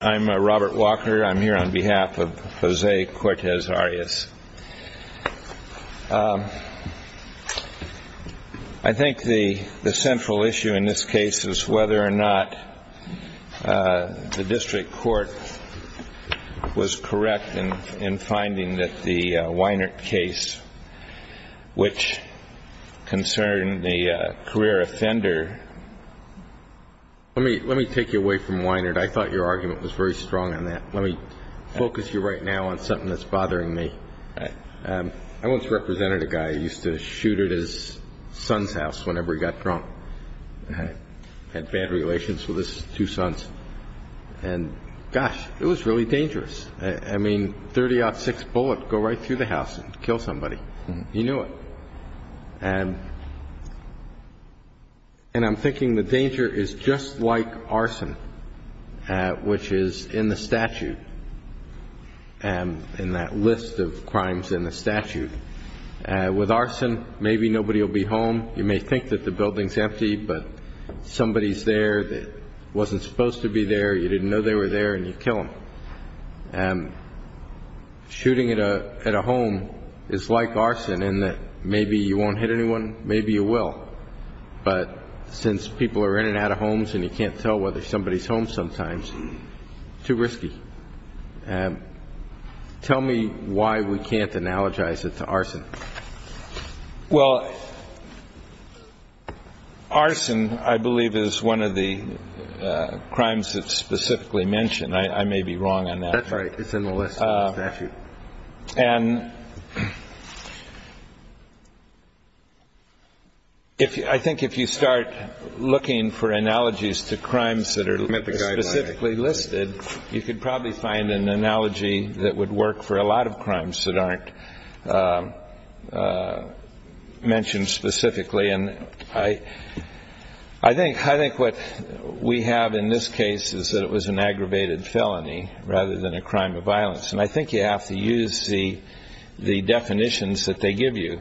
I'm Robert Walker. I'm here on behalf of Jose Cortez-Arias. I think the central issue in this case is whether or not the district court was correct in finding that the Weinert case, which concerned the career offender... Let me focus you right now on something that's bothering me. I once represented a guy who used to shoot at his son's house whenever he got drunk. He had bad relations with his two sons. And, gosh, it was really dangerous. I mean, 30-06 bullet would go right through the house and kill somebody. You knew it. And I'm thinking the danger is just like arson, which is in the statute, in that list of crimes in the statute. With arson, maybe nobody will be home. You may think that the building's empty, but somebody's there that wasn't supposed to be there. You didn't know they were there, and you kill them. And shooting at a home is like arson in that maybe you won't hit anyone, maybe you will. But since people are in and out of homes and you can't tell whether somebody's home sometimes, too risky. Tell me why we can't analogize it to arson. Well, arson, I believe, is one of the crimes that's specifically mentioned. I may be wrong on that. That's right. It's in the list in the statute. And I think if you start looking for analogies to crimes that are specifically listed, you could probably find an analogy that would work for a lot of crimes that aren't mentioned specifically. And I think what we have in this case is that it was an aggravated felony rather than a crime of violence. And I think you have to use the definitions that they give you.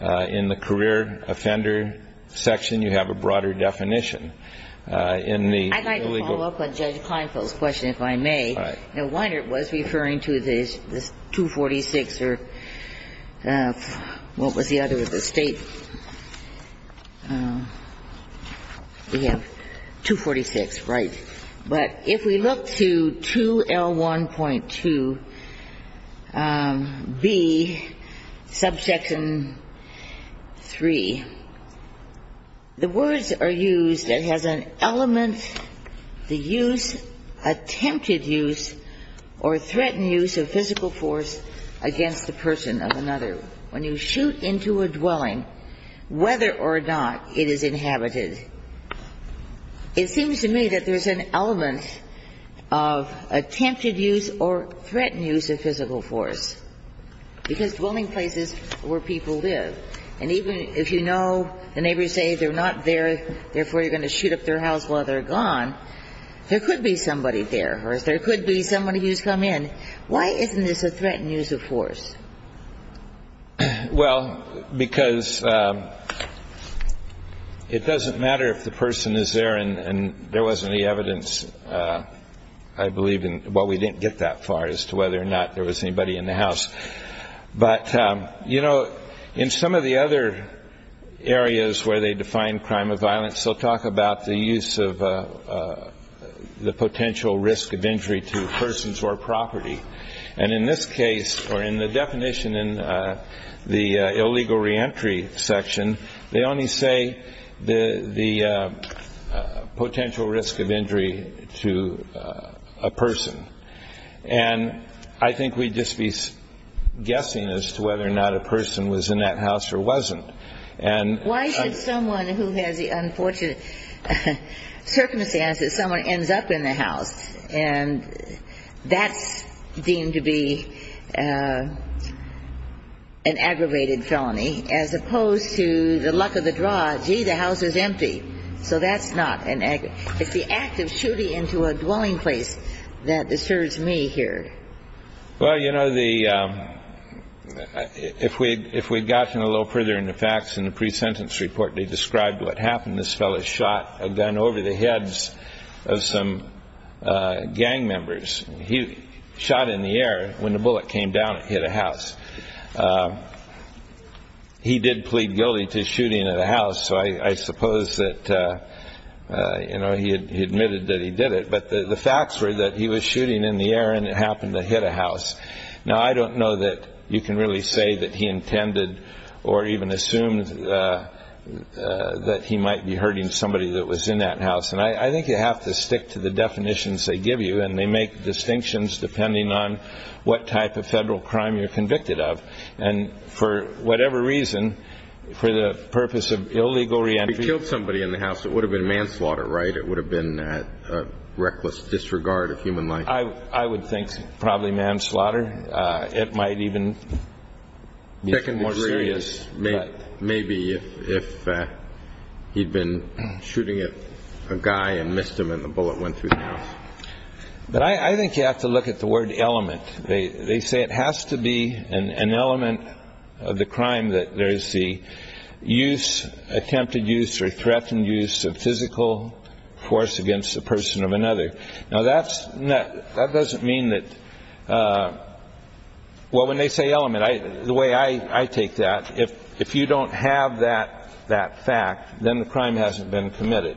In the career offender section, you have a broader definition. I'd like to follow up on Judge Kleinfeld's question, if I may. All right. Now, Weinert was referring to the 246 or what was the other of the state? We have 246, right. But if we look to 2L1.2B, subsection 3, the words are used that has an element, the use, attempted use, or threatened use of physical force against the person of another. When you shoot into a dwelling, whether or not it is inhabited, it seems to me that there's an element of attempted use or threatened use of physical force. Because dwelling places are where people live. And even if you know the neighbors say they're not there, therefore you're going to shoot up their house while they're gone, there could be somebody there or there could be somebody who's come in. Why isn't this a threatened use of force? Well, because it doesn't matter if the person is there and there wasn't any evidence, I believe, well, we didn't get that far as to whether or not there was anybody in the house. But, you know, in some of the other areas where they define crime of violence, they'll talk about the use of the potential risk of injury to persons or property. And in this case, or in the definition in the illegal reentry section, they only say the potential risk of injury to a person. And I think we'd just be guessing as to whether or not a person was in that house or wasn't. Why should someone who has the unfortunate circumstance that someone ends up in the house and that's deemed to be an aggravated felony as opposed to the luck of the draw, gee, the house is empty. So that's not an aggravated felony. It's the act of shooting into a dwelling place that disturbs me here. Well, you know, if we had gotten a little further into facts in the pre-sentence report, this fellow shot a gun over the heads of some gang members. He shot in the air. When the bullet came down, it hit a house. He did plead guilty to shooting at a house, so I suppose that, you know, he admitted that he did it. But the facts were that he was shooting in the air and it happened to hit a house. Now, I don't know that you can really say that he intended or even assume that he might be hurting somebody that was in that house. And I think you have to stick to the definitions they give you, and they make distinctions depending on what type of federal crime you're convicted of. And for whatever reason, for the purpose of illegal reentry. He killed somebody in the house. It would have been manslaughter, right? It would have been a reckless disregard of human life. I would think probably manslaughter. It might even be more serious. Maybe if he'd been shooting at a guy and missed him and the bullet went through the house. But I think you have to look at the word element. They say it has to be an element of the crime that there is the use, attempted use or threatened use of physical force against a person or another. Now, that doesn't mean that – well, when they say element, the way I take that, if you don't have that fact, then the crime hasn't been committed.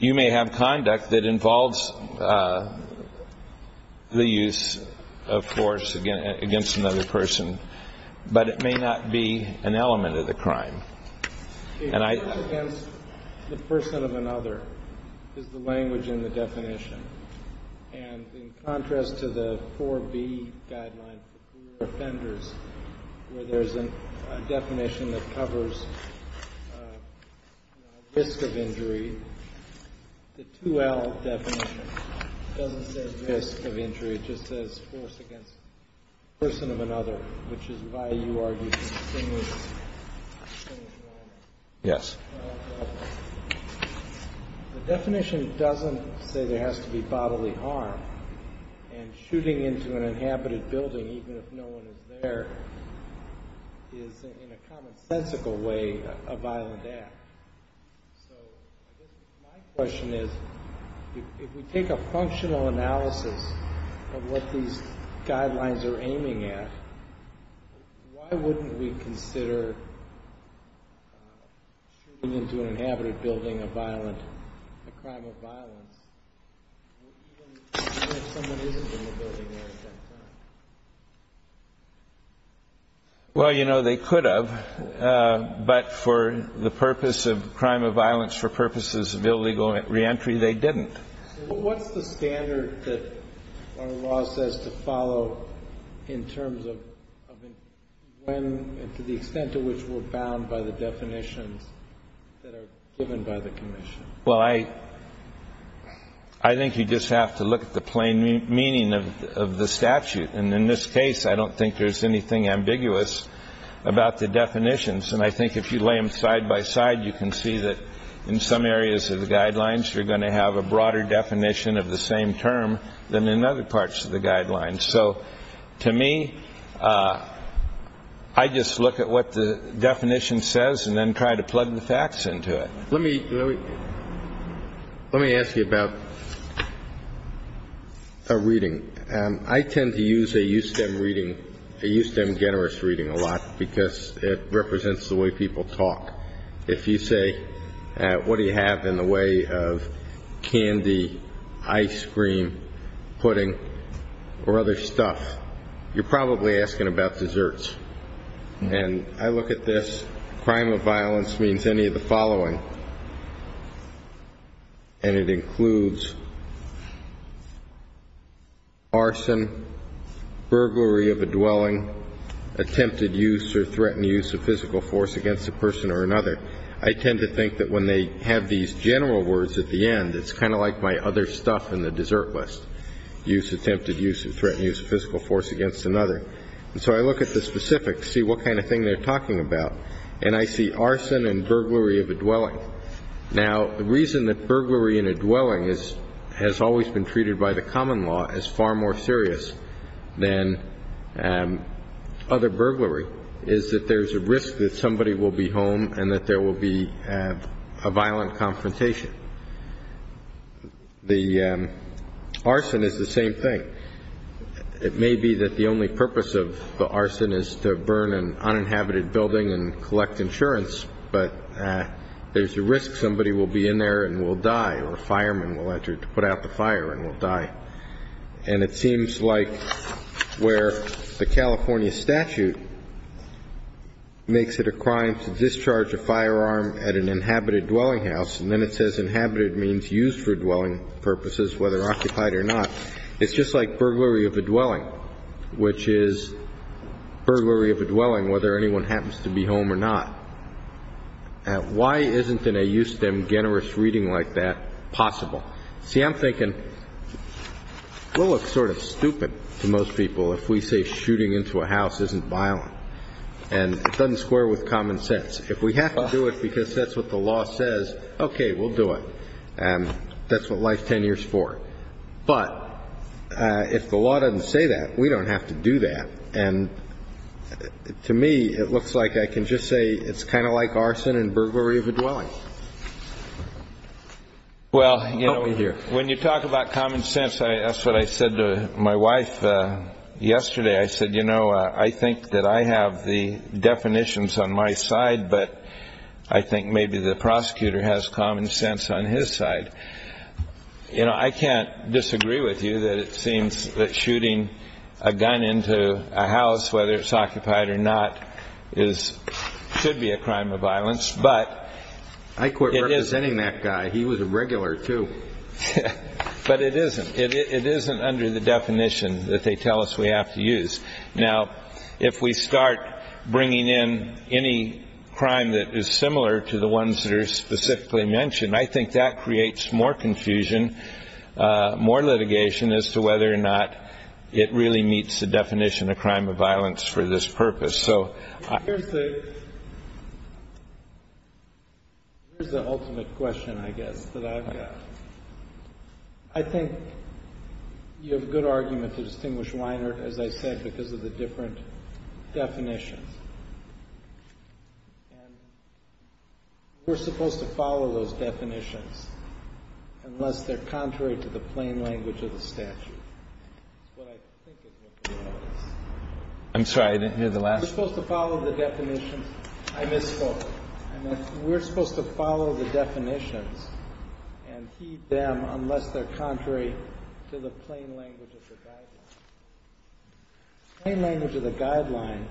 You may have conduct that involves the use of force against another person, but it may not be an element of the crime. And I – The force against the person of another is the language in the definition. And in contrast to the 4B guideline for poor offenders where there's a definition that covers risk of injury, the 2L definition doesn't say risk of injury. It just says force against a person of another, which is why you are using the same language. Yes. The definition doesn't say there has to be bodily harm. And shooting into an inhabited building, even if no one is there, is in a commonsensical way a violent act. So I guess my question is, if we take a functional analysis of what these guidelines are aiming at, why wouldn't we consider shooting into an inhabited building a violent – a crime of violence, even if someone isn't in the building at that time? Well, you know, they could have. But for the purpose of crime of violence, for purposes of illegal reentry, they didn't. What's the standard that our law says to follow in terms of when and to the extent to which we're bound by the definitions that are given by the commission? Well, I think you just have to look at the plain meaning of the statute. And in this case, I don't think there's anything ambiguous about the definitions. And I think if you lay them side by side, you can see that in some areas of the guidelines, you're going to have a broader definition of the same term than in other parts of the guidelines. So to me, I just look at what the definition says and then try to plug the facts into it. Let me ask you about a reading. I tend to use a USTEM reading, a USTEM generous reading a lot, because it represents the way people talk. If you say, what do you have in the way of candy, ice cream, pudding, or other stuff, you're probably asking about desserts. And I look at this, crime of violence means any of the following, and it includes arson, burglary of a dwelling, attempted use or threatened use of physical force against a person or another. I tend to think that when they have these general words at the end, it's kind of like my other stuff in the dessert list, attempted use or threatened use of physical force against another. And so I look at the specifics, see what kind of thing they're talking about, and I see arson and burglary of a dwelling. Now, the reason that burglary in a dwelling has always been treated by the common law as far more serious than other burglary is that there's a risk that somebody will be home and that there will be a violent confrontation. The arson is the same thing. It may be that the only purpose of the arson is to burn an uninhabited building and collect insurance, but there's a risk somebody will be in there and will die or a fireman will have to put out the fire and will die. And it seems like where the California statute makes it a crime to discharge a firearm at an inhabited dwelling house, and then it says inhabited means used for dwelling purposes, whether occupied or not, it's just like burglary of a dwelling, which is burglary of a dwelling whether anyone happens to be home or not. Why isn't in a USTEM generous reading like that possible? See, I'm thinking we'll look sort of stupid to most people if we say shooting into a house isn't violent. And it doesn't square with common sense. If we have to do it because that's what the law says, okay, we'll do it. And that's what life's ten years for. But if the law doesn't say that, we don't have to do that. And to me, it looks like I can just say it's kind of like arson and burglary of a dwelling. Well, when you talk about common sense, that's what I said to my wife yesterday. I said, you know, I think that I have the definitions on my side, but I think maybe the prosecutor has common sense on his side. You know, I can't disagree with you that it seems that shooting a gun into a house, whether it's occupied or not, should be a crime of violence, but it is. I quit representing that guy. He was a regular too. But it isn't. It isn't under the definition that they tell us we have to use. Now, if we start bringing in any crime that is similar to the ones that are specifically mentioned, I think that creates more confusion, more litigation, as to whether or not it really meets the definition of crime of violence for this purpose. So here's the ultimate question, I guess, that I've got. I think you have a good argument to distinguish Weiner, as I said, because of the different definitions. And we're supposed to follow those definitions unless they're contrary to the plain language of the statute. That's what I think it is. I'm sorry. I didn't hear the last part. We're supposed to follow the definitions. I misspoke. We're supposed to follow the definitions and heed them unless they're contrary to the plain language of the guideline. The plain language of the guideline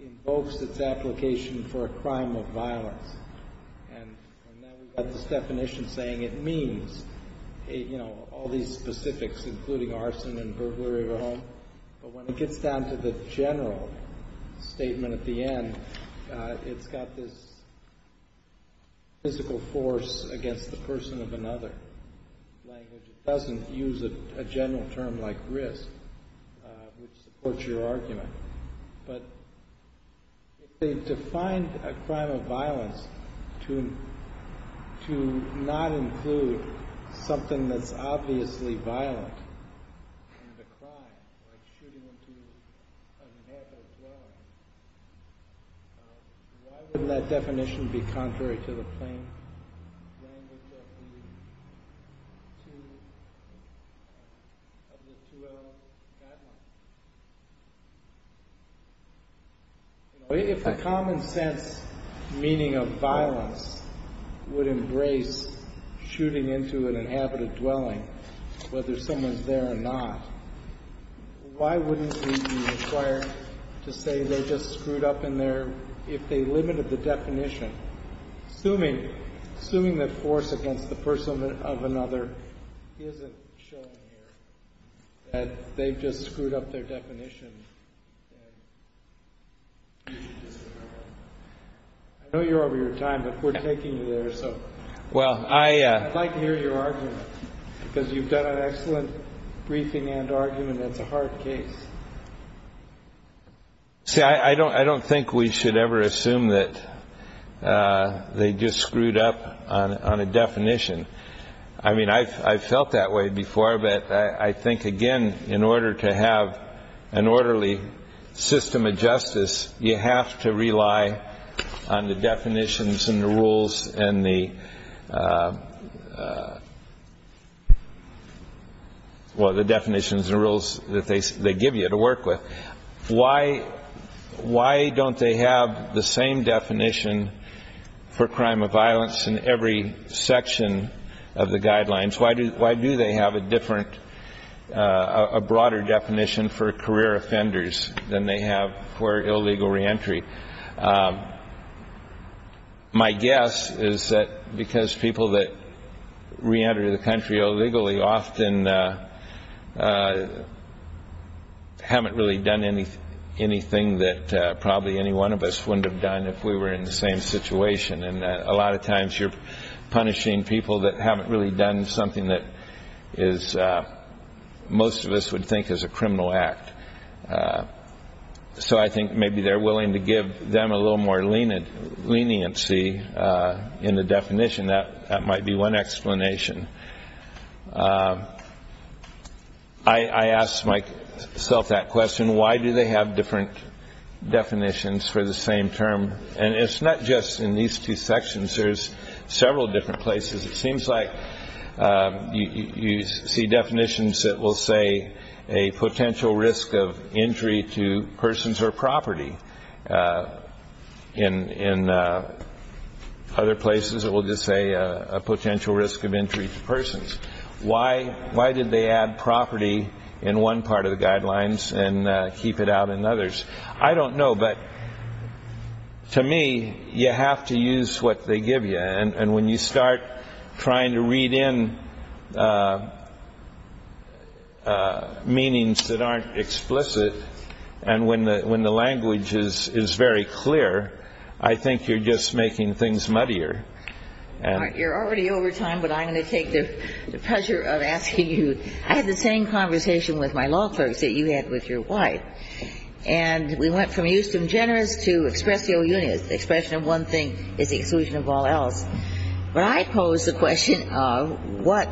invokes its application for a crime of violence. And now we've got this definition saying it means all these specifics, including arson and burglary of a home. But when it gets down to the general statement at the end, it's got this physical force against the person of another. It doesn't use a general term like risk, which supports your argument. But if they've defined a crime of violence to not include something that's obviously violent in the crime, like shooting into a map as well, why wouldn't that definition be contrary to the plain language of the 2L guideline? If the common sense meaning of violence would embrace shooting into an inhabited dwelling, whether someone's there or not, why wouldn't it be required to say they just screwed up in there if they limited the definition? Assuming that force against the person of another isn't shown here, that they've just screwed up their definition. I know you're over your time, but we're taking you there. I'd like to hear your argument, because you've done an excellent briefing and argument. It's a hard case. See, I don't think we should ever assume that they just screwed up on a definition. I mean, I've felt that way before, but I think, again, in order to have an orderly system of justice, you have to rely on the definitions and the rules that they give you to work with. Why don't they have the same definition for crime of violence in every section of the guidelines? Why do they have a different, a broader definition for career offenders than they have for illegal reentry? My guess is that because people that reenter the country illegally often haven't really done anything that probably any one of us wouldn't have done if we were in the same situation. And a lot of times you're punishing people that haven't really done something that most of us would think is a criminal act. So I think maybe they're willing to give them a little more leniency in the definition. That might be one explanation. I ask myself that question. Why do they have different definitions for the same term? And it's not just in these two sections. There's several different places. It seems like you see definitions that will say a potential risk of injury to persons or property. In other places it will just say a potential risk of injury to persons. Why did they add property in one part of the guidelines and keep it out in others? I don't know, but to me you have to use what they give you. And when you start trying to read in meanings that aren't explicit and when the language is very clear, I think you're just making things muddier. You're already over time, but I'm going to take the pleasure of asking you. I had the same conversation with my law clerks that you had with your wife. And we went from eustem generis to expressio unia. The expression of one thing is the exclusion of all else. But I pose the question of what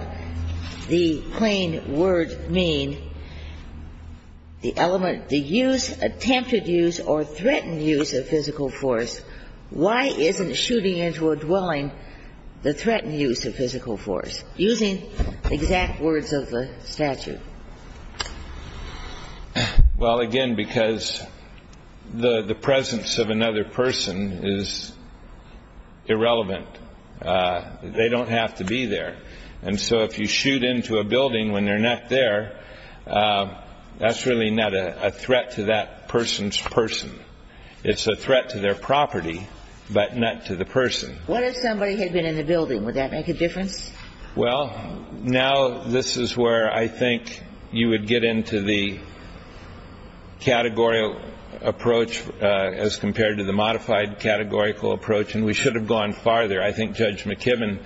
the plain word mean, the element, the use, attempted use or threatened use of physical force. Why isn't shooting into a dwelling the threatened use of physical force? Using exact words of the statute. Well, again, because the presence of another person is irrelevant. They don't have to be there. And so if you shoot into a building when they're not there, that's really not a threat to that person's person. It's a threat to their property, but not to the person. What if somebody had been in the building? Would that make a difference? Well, now this is where I think you would get into the categorical approach as compared to the modified categorical approach. And we should have gone farther. I think Judge McKibben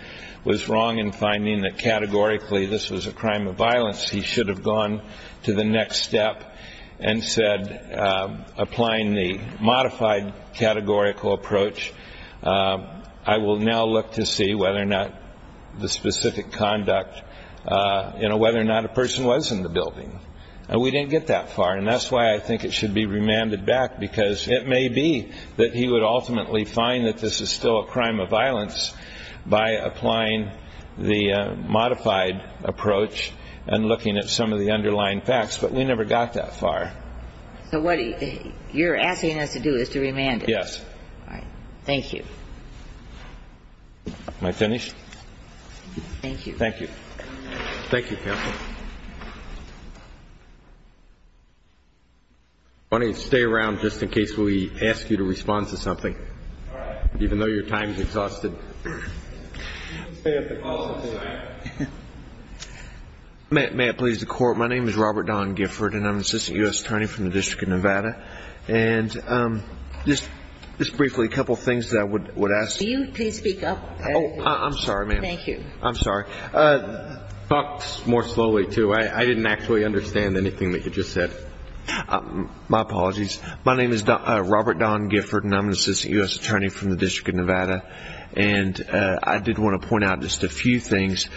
was wrong in finding that categorically this was a crime of violence. He should have gone to the next step and said, applying the modified categorical approach, I will now look to see whether or not the specific conduct, you know, whether or not a person was in the building. And we didn't get that far. And that's why I think it should be remanded back, because it may be that he would ultimately find that this is still a crime of violence by applying the modified approach and looking at some of the underlying facts. But we never got that far. So what you're asking us to do is to remand it? Yes. All right. Thank you. Am I finished? Thank you. Thank you. Thank you, counsel. I want to stay around just in case we ask you to respond to something. All right. Even though your time is exhausted. May I please the Court? My name is Robert Don Gifford, and I'm an assistant U.S. attorney from the District of Nevada. And just briefly, a couple of things that I would ask. Will you please speak up? Oh, I'm sorry, ma'am. Thank you. I'm sorry. Talk more slowly, too. I didn't actually understand anything that you just said. My apologies. My name is Robert Don Gifford, and I'm an assistant U.S. attorney from the District of Nevada. And I did want to point out just a few things.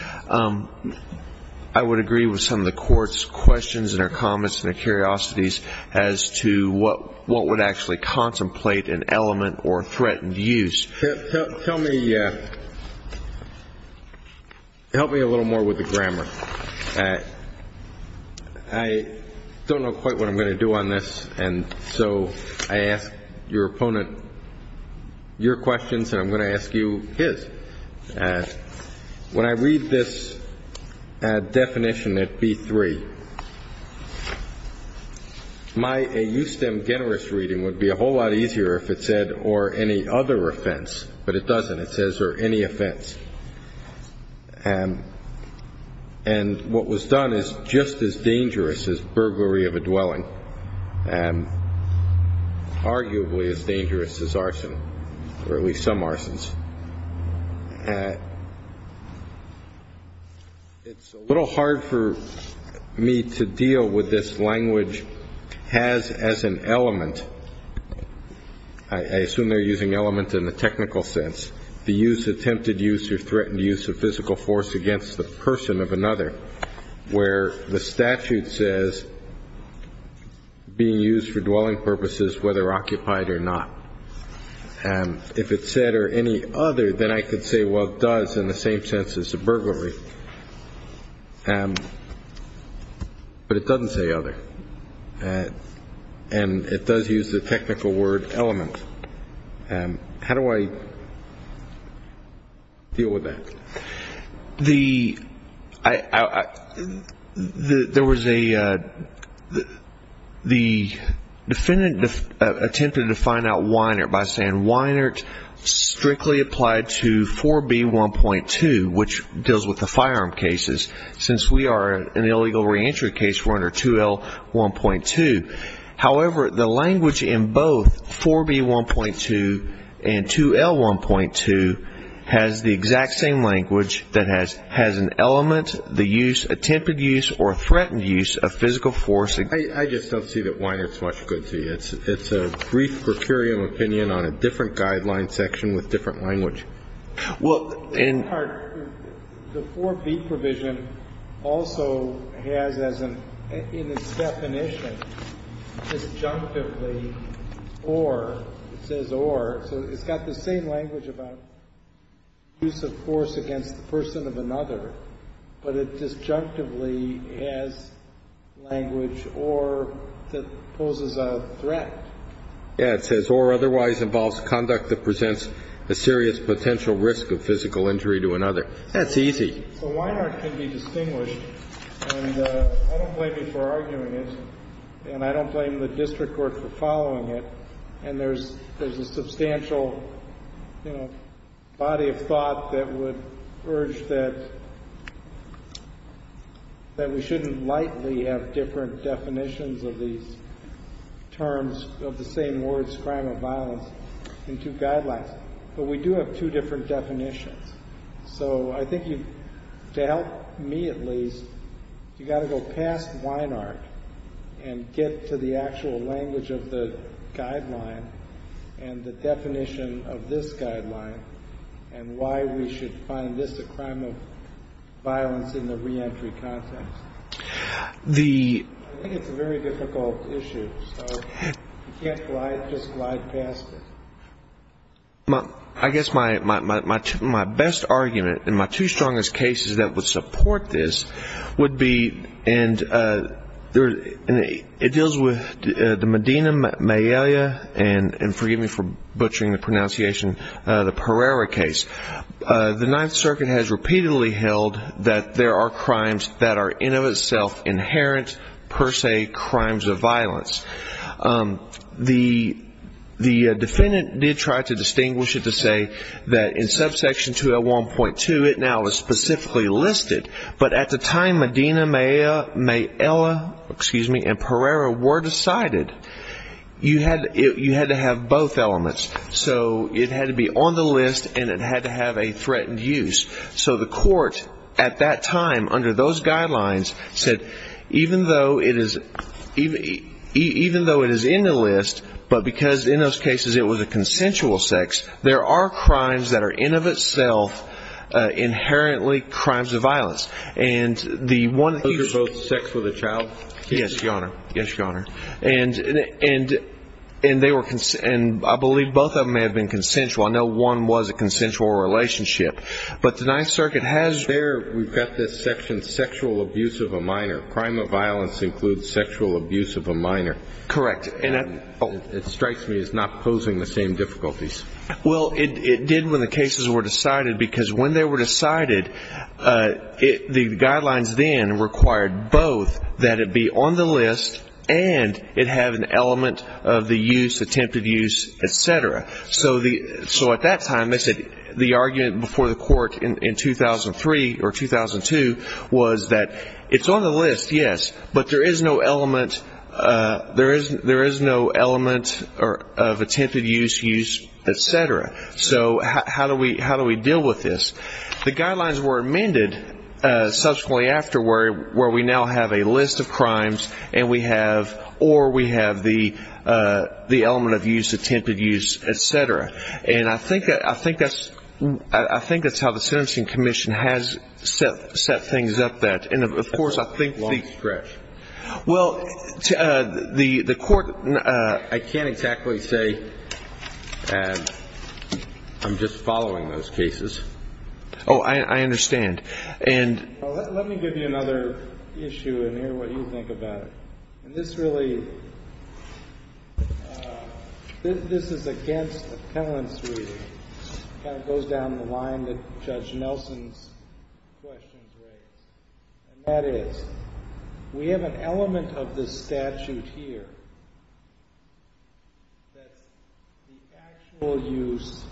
I would agree with some of the Court's questions and her comments and her curiosities as to what would actually contemplate an element or threatened use. Help me a little more with the grammar. I don't know quite what I'm going to do on this, and so I ask your opponent your questions and I'm going to ask you his. When I read this definition at B3, a USTEM generous reading would be a whole lot easier if it said, or any other offense, but it doesn't. It says, or any offense. And what was done is just as dangerous as burglary of a dwelling, arguably as dangerous as arson, or at least some arsons. It's a little hard for me to deal with this language has as an element. I assume they're using element in the technical sense. They use attempted use or threatened use of physical force against the person of another, where the statute says being used for dwelling purposes, whether occupied or not. If it said, or any other, then I could say, well, it does in the same sense as a burglary. But it doesn't say other. And it does use the technical word element. How do I deal with that? The defendant attempted to find out Weinert by saying, Weinert strictly applied to 4B1.2, which deals with the firearm cases. Since we are an illegal reentry case, we're under 2L1.2. However, the language in both 4B1.2 and 2L1.2 has the exact same language that has an element, the use, attempted use, or threatened use of physical force. I just don't see that Weinert's much good to you. It's a brief per curiam opinion on a different guideline section with different language. In part, the 4B provision also has as an, in its definition, disjunctively or, it says or, so it's got the same language about use of force against the person of another, but it disjunctively has language or that poses a threat. Yeah, it says or otherwise involves conduct that presents a serious potential risk of physical injury to another. That's easy. So Weinert can be distinguished, and I don't blame you for arguing it, and I don't blame the district court for following it. And there's a substantial, you know, body of thought that would urge that we shouldn't lightly have different definitions of these terms of the same words, crime of violence, in two guidelines. But we do have two different definitions. So I think you, to help me at least, you've got to go past Weinert and get to the actual language of the guideline and the definition of this guideline and why we should find this a crime of violence in the reentry context. I think it's a very difficult issue, so you can't just glide past it. I guess my best argument and my two strongest cases that would support this would be, and it deals with the Medina-Mayelia, and forgive me for butchering the pronunciation, the Pereira case. The Ninth Circuit has repeatedly held that there are crimes that are in of itself inherent, per se, crimes of violence. The defendant did try to distinguish it to say that in subsection 201.2 it now is specifically listed, but at the time Medina-Mayelia and Pereira were decided, you had to have both elements. So it had to be on the list and it had to have a threatened use. So the court at that time under those guidelines said even though it is in the list, but because in those cases it was a consensual sex, there are crimes that are in of itself inherently crimes of violence. Those are both sex with a child cases? Yes, Your Honor. And I believe both of them may have been consensual. I know one was a consensual relationship. But the Ninth Circuit has there, we've got this section, sexual abuse of a minor. Crime of violence includes sexual abuse of a minor. Correct. It strikes me as not posing the same difficulties. Well, it did when the cases were decided because when they were decided, the guidelines then required both that it be on the list and it have an element of the use, attempted use, et cetera. So at that time the argument before the court in 2003 or 2002 was that it's on the list, yes, but there is no element of attempted use, use, et cetera. So how do we deal with this? The guidelines were amended subsequently afterward where we now have a list of crimes or we have the element of use, attempted use, et cetera. And I think that's how the Sentencing Commission has set things up. And, of course, I think the ‑‑ Well, the court, I can't exactly say. I'm just following those cases. Oh, I understand. And ‑‑ Let me give you another issue and hear what you think about it. This really ‑‑ this is against the penalty. It kind of goes down the line that Judge Nelson's questions raised. And that is, we have an element of this statute here that the actual use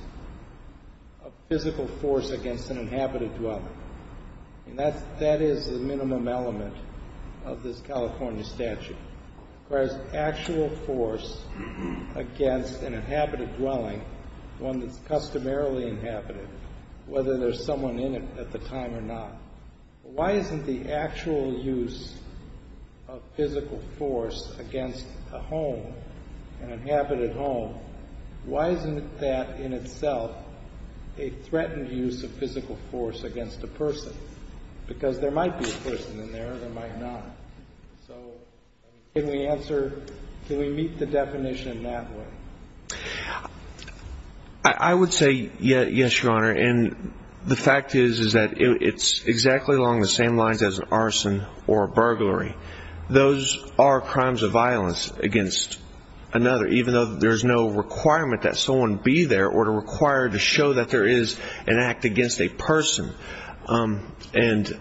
of physical force against an inhabited dwelling. And that is the minimum element of this California statute. Whereas actual force against an inhabited dwelling, one that's customarily inhabited, whether there's someone in it at the time or not. Why isn't the actual use of physical force against a home, an inhabited home, why isn't that in itself a threatened use of physical force against a person? Because there might be a person in there, there might not. So, can we answer, can we meet the definition in that way? I would say yes, Your Honor. And the fact is, is that it's exactly along the same lines as an arson or a burglary. Those are crimes of violence against another, even though there's no requirement that someone be there or to require to show that there is an act against a person. And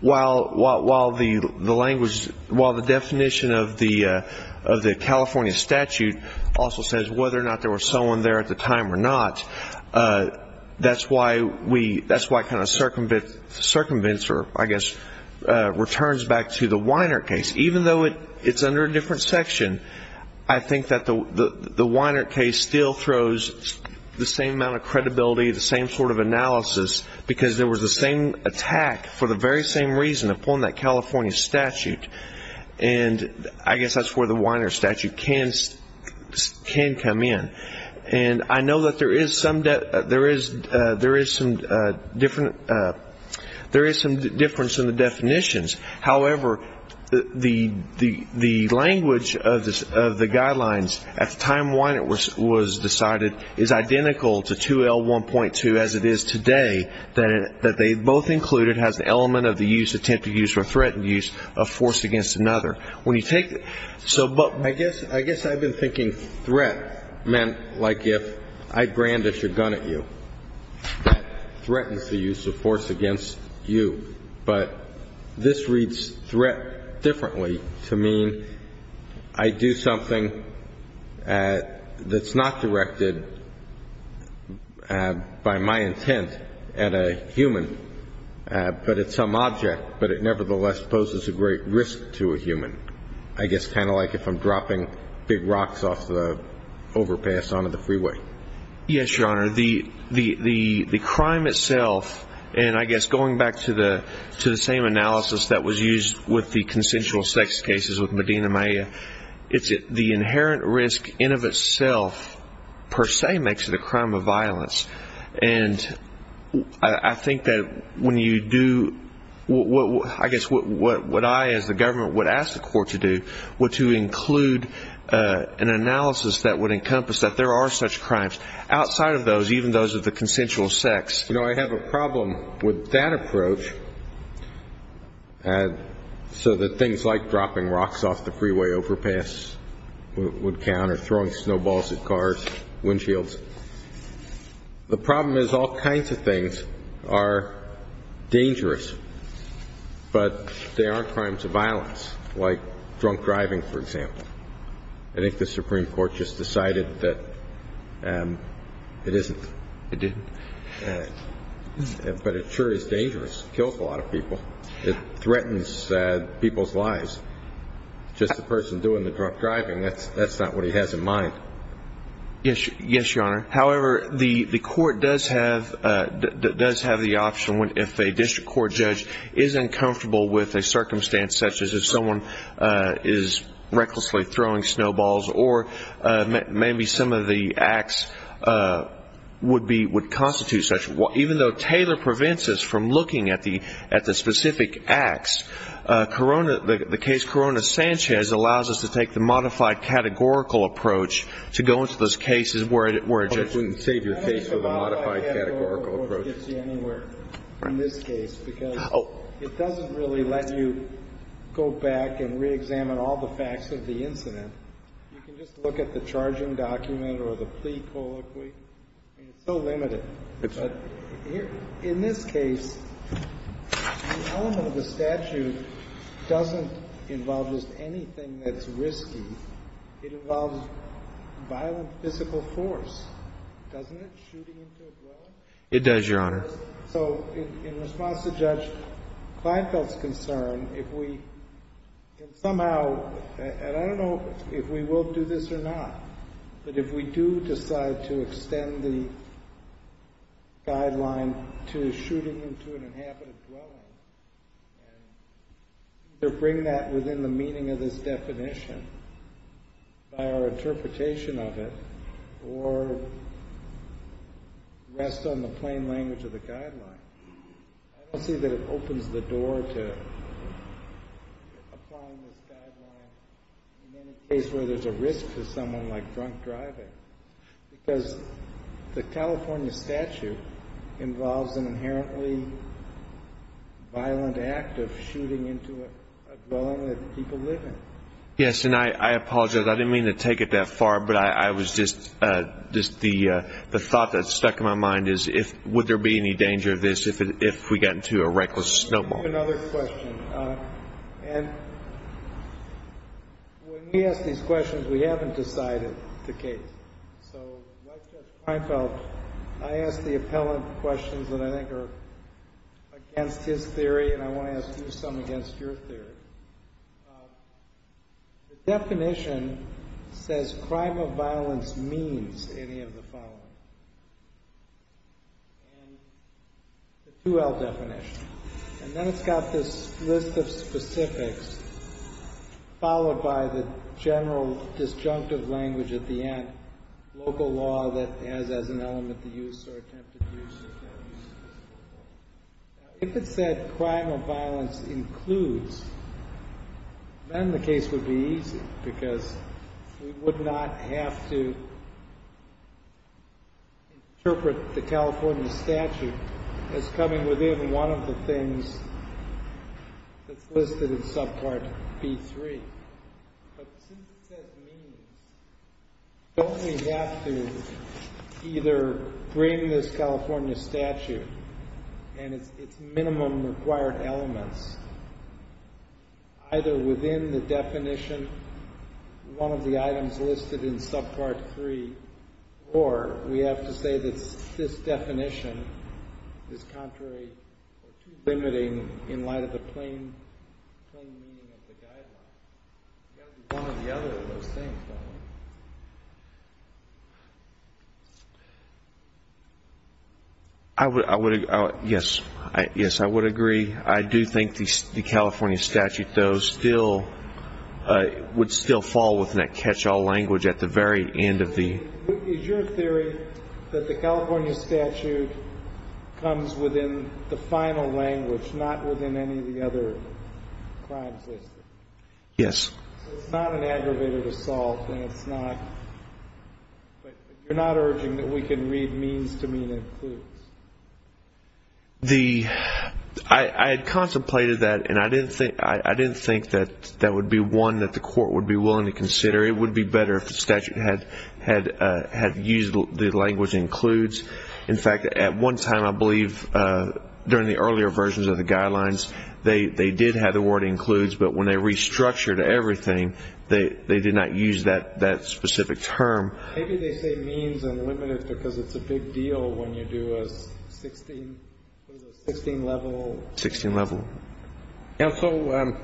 while the language, while the definition of the California statute also says whether or not there was someone there at the time or not, that's why we, that's why kind of circumvents or I guess returns back to the Weiner case. Even though it's under a different section, I think that the Weiner case still throws the same amount of credibility, the same sort of analysis, because there was the same attack for the very same reason upon that California statute. And I guess that's where the Weiner statute can come in. And I know that there is some difference in the definitions. However, the language of the guidelines at the time Weiner was decided is identical to 2L1.2 as it is today, that they both include, it has the element of the use, attempted use or threatened use of force against another. When you take, so, but I guess I've been thinking threat meant like if I brandish a gun at you, that threatens the use of force against you. But this reads threat differently to mean I do something that's not directed by my intent at a human, but at some object, but it nevertheless poses a great risk to a human. I guess kind of like if I'm dropping big rocks off the overpass onto the freeway. Yes, Your Honor. The crime itself, and I guess going back to the same analysis that was used with the consensual sex cases with Medina Maya, it's the inherent risk in of itself per se makes it a crime of violence. And I think that when you do, I guess what I as the government would ask the court to do, would to include an analysis that would encompass that there are such crimes outside of those, even those of the consensual sex. You know, I have a problem with that approach, so that things like dropping rocks off the freeway overpass would count, or throwing snowballs at cars, windshields. The problem is all kinds of things are dangerous, but they aren't crimes of violence, like drunk driving, for example. I think the Supreme Court just decided that it isn't. It didn't? But it sure is dangerous. It kills a lot of people. It threatens people's lives. Just the person doing the drunk driving, that's not what he has in mind. Yes, Your Honor. However, the court does have the option if a district court judge is uncomfortable with a circumstance such as if someone is recklessly throwing snowballs, or maybe some of the acts would constitute such. Even though Taylor prevents us from looking at the specific acts, the case Corona-Sanchez allows us to take the modified categorical approach to go into those cases where a judge wouldn't save your case with a modified categorical approach. I don't think the modified categorical approach gets you anywhere in this case, because it doesn't really let you go back and reexamine all the facts of the incident. You can just look at the charging document or the plea colloquy, and it's so limited. It's not. In this case, the element of the statute doesn't involve just anything that's risky. It involves violent physical force. Doesn't it? It does, Your Honor. So in response to Judge Kleinfeld's concern, if we can somehow, and I don't know if we will do this or not, but if we do decide to extend the guideline to shooting into an inhabited dwelling and either bring that within the meaning of this definition by our interpretation of it, or rest on the plain language of the guideline, I don't see that it opens the door to applying this guideline in any case where there's a risk to someone like drunk driving, because the California statute involves an inherently violent act of shooting into a dwelling that people live in. Yes, and I apologize. I didn't mean to take it that far, but I was just the thought that stuck in my mind is, would there be any danger of this if we got into a reckless snowball? I have another question, and when we ask these questions, we haven't decided the case. So when I asked Judge Kleinfeld, I asked the appellant questions that I think are against his theory, and I want to ask you some against your theory. The definition says crime of violence means any of the following. The 2L definition, and then it's got this list of specifics, followed by the general disjunctive language at the end, local law that has as an element the use or attempted use of that use. If it said crime of violence includes, then the case would be easy, because we would not have to interpret the California statute as coming within one of the things that's listed in subpart B3. But since it says means, don't we have to either bring this California statute and its minimum required elements either within the definition, one of the items listed in subpart 3, or we have to say that this definition is contrary or too limiting in light of the plain meaning of the guidelines? It's got to be one or the other of those things, don't it? I would agree. Yes, I would agree. I do think the California statute, though, would still fall within that catch-all language at the very end of the… Is your theory that the California statute comes within the final language, not within any of the other crimes listed? Yes. So it's not an aggravated assault, and it's not – I had contemplated that, and I didn't think that that would be one that the court would be willing to consider. It would be better if the statute had used the language includes. In fact, at one time, I believe, during the earlier versions of the guidelines, they did have the word includes, but when they restructured everything, they did not use that specific term. Maybe they say means and limited because it's a big deal when you do a 16-level… 16-level. Counsel,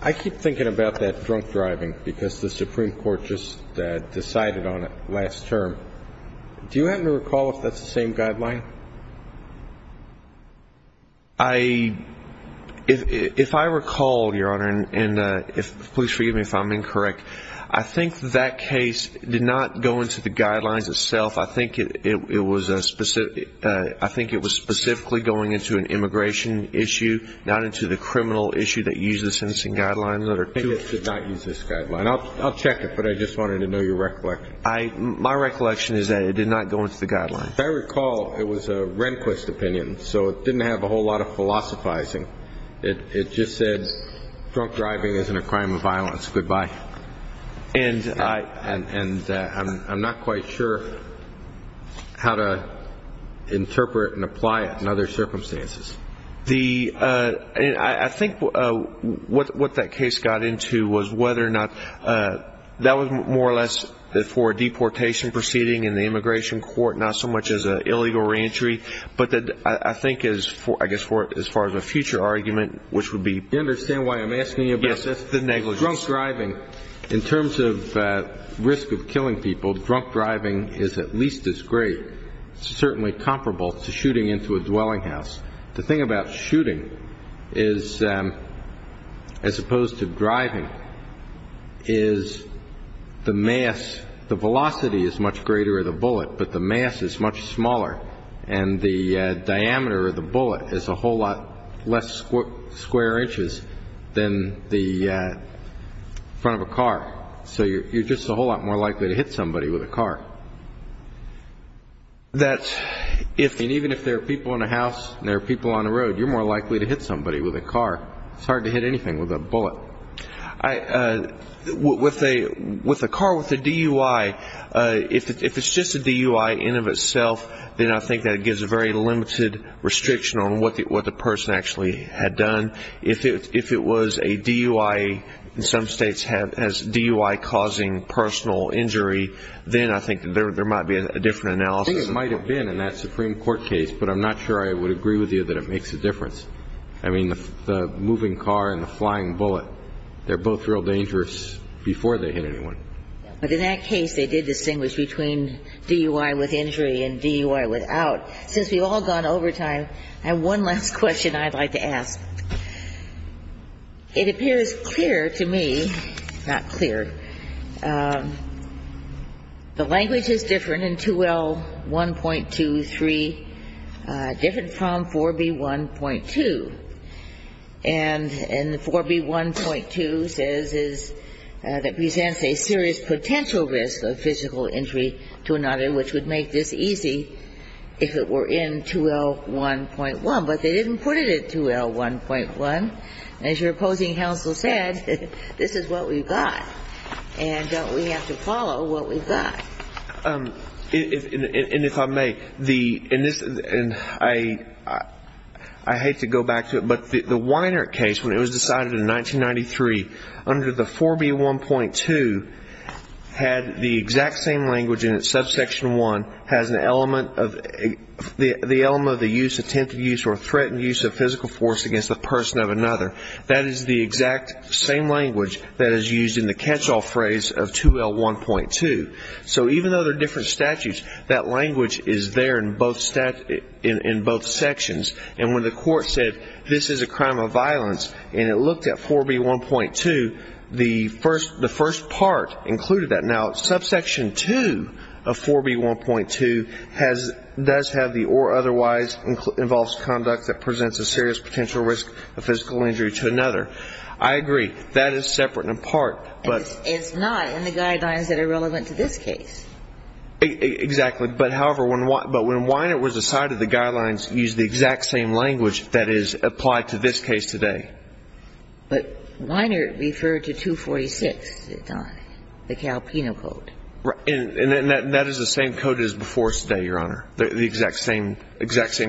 I keep thinking about that drunk driving because the Supreme Court just decided on it last term. Do you happen to recall if that's the same guideline? If I recall, Your Honor, and please forgive me if I'm incorrect, I think that case did not go into the guidelines itself. I think it was specifically going into an immigration issue, not into the criminal issue that uses sentencing guidelines. I think it did not use this guideline. I'll check it, but I just wanted to know your recollection. My recollection is that it did not go into the guidelines. If I recall, it was a Rehnquist opinion, so it didn't have a whole lot of philosophizing. It just said drunk driving isn't a crime of violence, goodbye. And I'm not quite sure how to interpret and apply it in other circumstances. I think what that case got into was whether or not that was more or less for a deportation proceeding in the immigration court, not so much as an illegal reentry, but that I think is, I guess, as far as a future argument, which would be... Do you understand why I'm asking you about this? Yes, the negligence. Drunk driving, in terms of risk of killing people, drunk driving is at least as great, certainly comparable to shooting into a dwelling house. The thing about shooting is, as opposed to driving, is the mass... And the diameter of the bullet is a whole lot less square inches than the front of a car. So you're just a whole lot more likely to hit somebody with a car. And even if there are people in a house and there are people on a road, you're more likely to hit somebody with a car. It's hard to hit anything with a bullet. With a car with a DUI, if it's just a DUI in and of itself, then I think that gives a very limited restriction on what the person actually had done. If it was a DUI, in some states has DUI causing personal injury, then I think there might be a different analysis. I think it might have been in that Supreme Court case, but I'm not sure I would agree with you that it makes a difference. I mean, the moving car and the flying bullet, they're both real dangerous before they hit anyone. But in that case, they did distinguish between DUI with injury and DUI without. Since we've all gone over time, I have one last question I'd like to ask. It appears clear to me, not clear, the language is different in 2L1.23, different from 4B1.2. And 4B1.2 says it presents a serious potential risk of physical injury to another, which would make this easy if it were in 2L1.1. But they didn't put it in 2L1.1. As your opposing counsel said, this is what we've got, and we have to follow what we've got. And if I may, I hate to go back to it, but the Weiner case, when it was decided in 1993, under the 4B1.2 had the exact same language in it. Subsection 1 has the element of the use, attempted use, or threatened use of physical force against the person of another. That is the exact same language that is used in the catch-all phrase of 2L1.2. So even though they're different statutes, that language is there in both sections. And when the court said this is a crime of violence, and it looked at 4B1.2, the first part included that. Now, subsection 2 of 4B1.2 does have the or otherwise involves conduct that presents a serious potential risk of physical injury to another. I agree, that is separate and apart. It's not in the guidelines that are relevant to this case. Exactly. But, however, when Weiner was decided, the guidelines used the exact same language that is applied to this case today. But Weiner referred to 246 at the time, the Calpino Code. Right. And that is the same code as before today, Your Honor, the exact same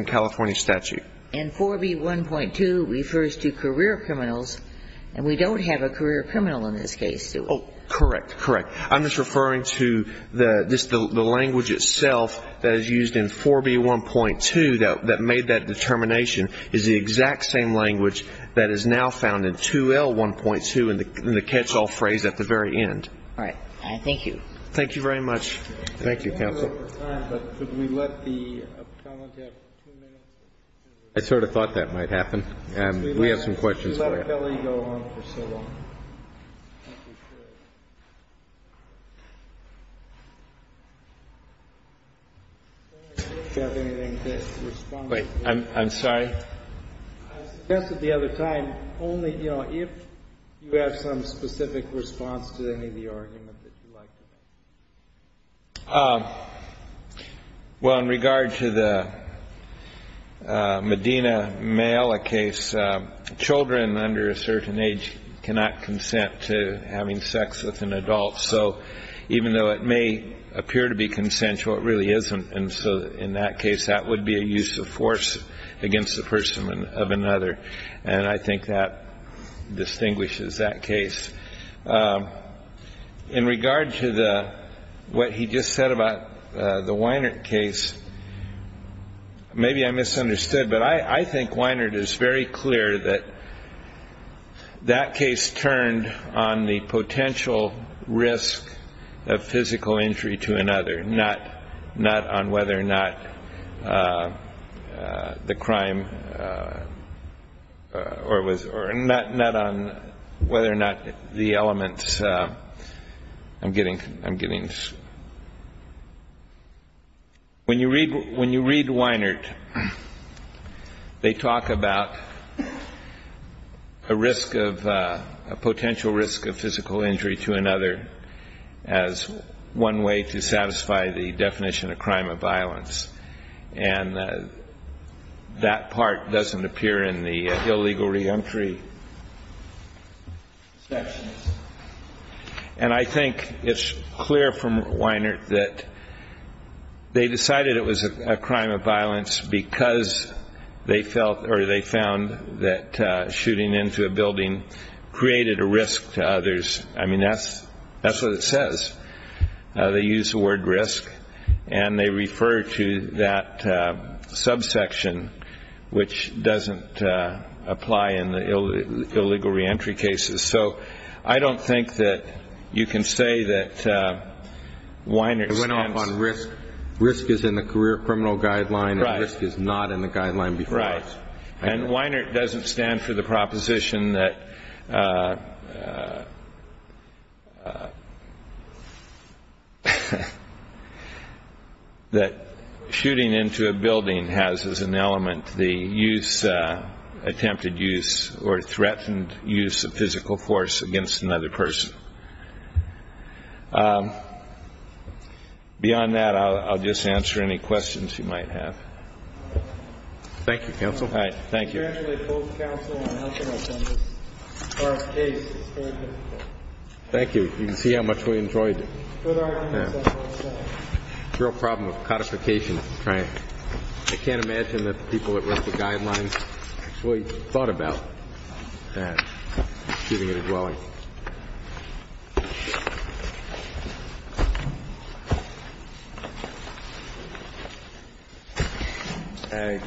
California statute. And 4B1.2 refers to career criminals, and we don't have a career criminal in this case, do we? Correct. Correct. I'm just referring to the language itself that is used in 4B1.2 that made that determination is the exact same language that is now found in 2L1.2 in the catch-all phrase at the very end. All right. Thank you. Thank you very much. Thank you, counsel. I sort of thought that might happen. We have some questions for you. Could you let Kelly go on for so long? I'm sorry? I suggested the other time only, you know, if you have some specific response to any of the arguments that you like to make. Well, in regard to the Medina male case, children under a certain age cannot consent to having sex with an adult. So even though it may appear to be consensual, it really isn't. And so in that case, that would be a use of force against the person of another. And I think that distinguishes that case. In regard to what he just said about the Weinert case, maybe I misunderstood, but I think Weinert is very clear that that case turned on the potential risk of physical injury to another, not on whether or not the crime or not on whether or not the elements. When you read Weinert, they talk about a potential risk of physical injury to another as one way to satisfy the definition of crime of violence. And that part doesn't appear in the illegal reentry section. And I think it's clear from Weinert that they decided it was a crime of violence because they felt or they found that shooting into a building created a risk to others. I mean, that's what it says. They use the word risk, and they refer to that subsection, which doesn't apply in the illegal reentry cases. So I don't think that you can say that Weinert stands. It went off on risk. Risk is in the career criminal guideline, and risk is not in the guideline before us. And Weinert doesn't stand for the proposition that shooting into a building has as an element the use, attempted use or threatened use of physical force against another person. Beyond that, I'll just answer any questions you might have. Thank you, Counsel. All right. Thank you. Thank you. You can see how much we enjoyed the real problem of codification. I can't imagine that the people that wrote the guidelines really thought about shooting at a dwelling.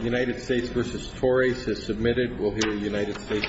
United States v. Torres has submitted. We'll hear United States v. Valerio.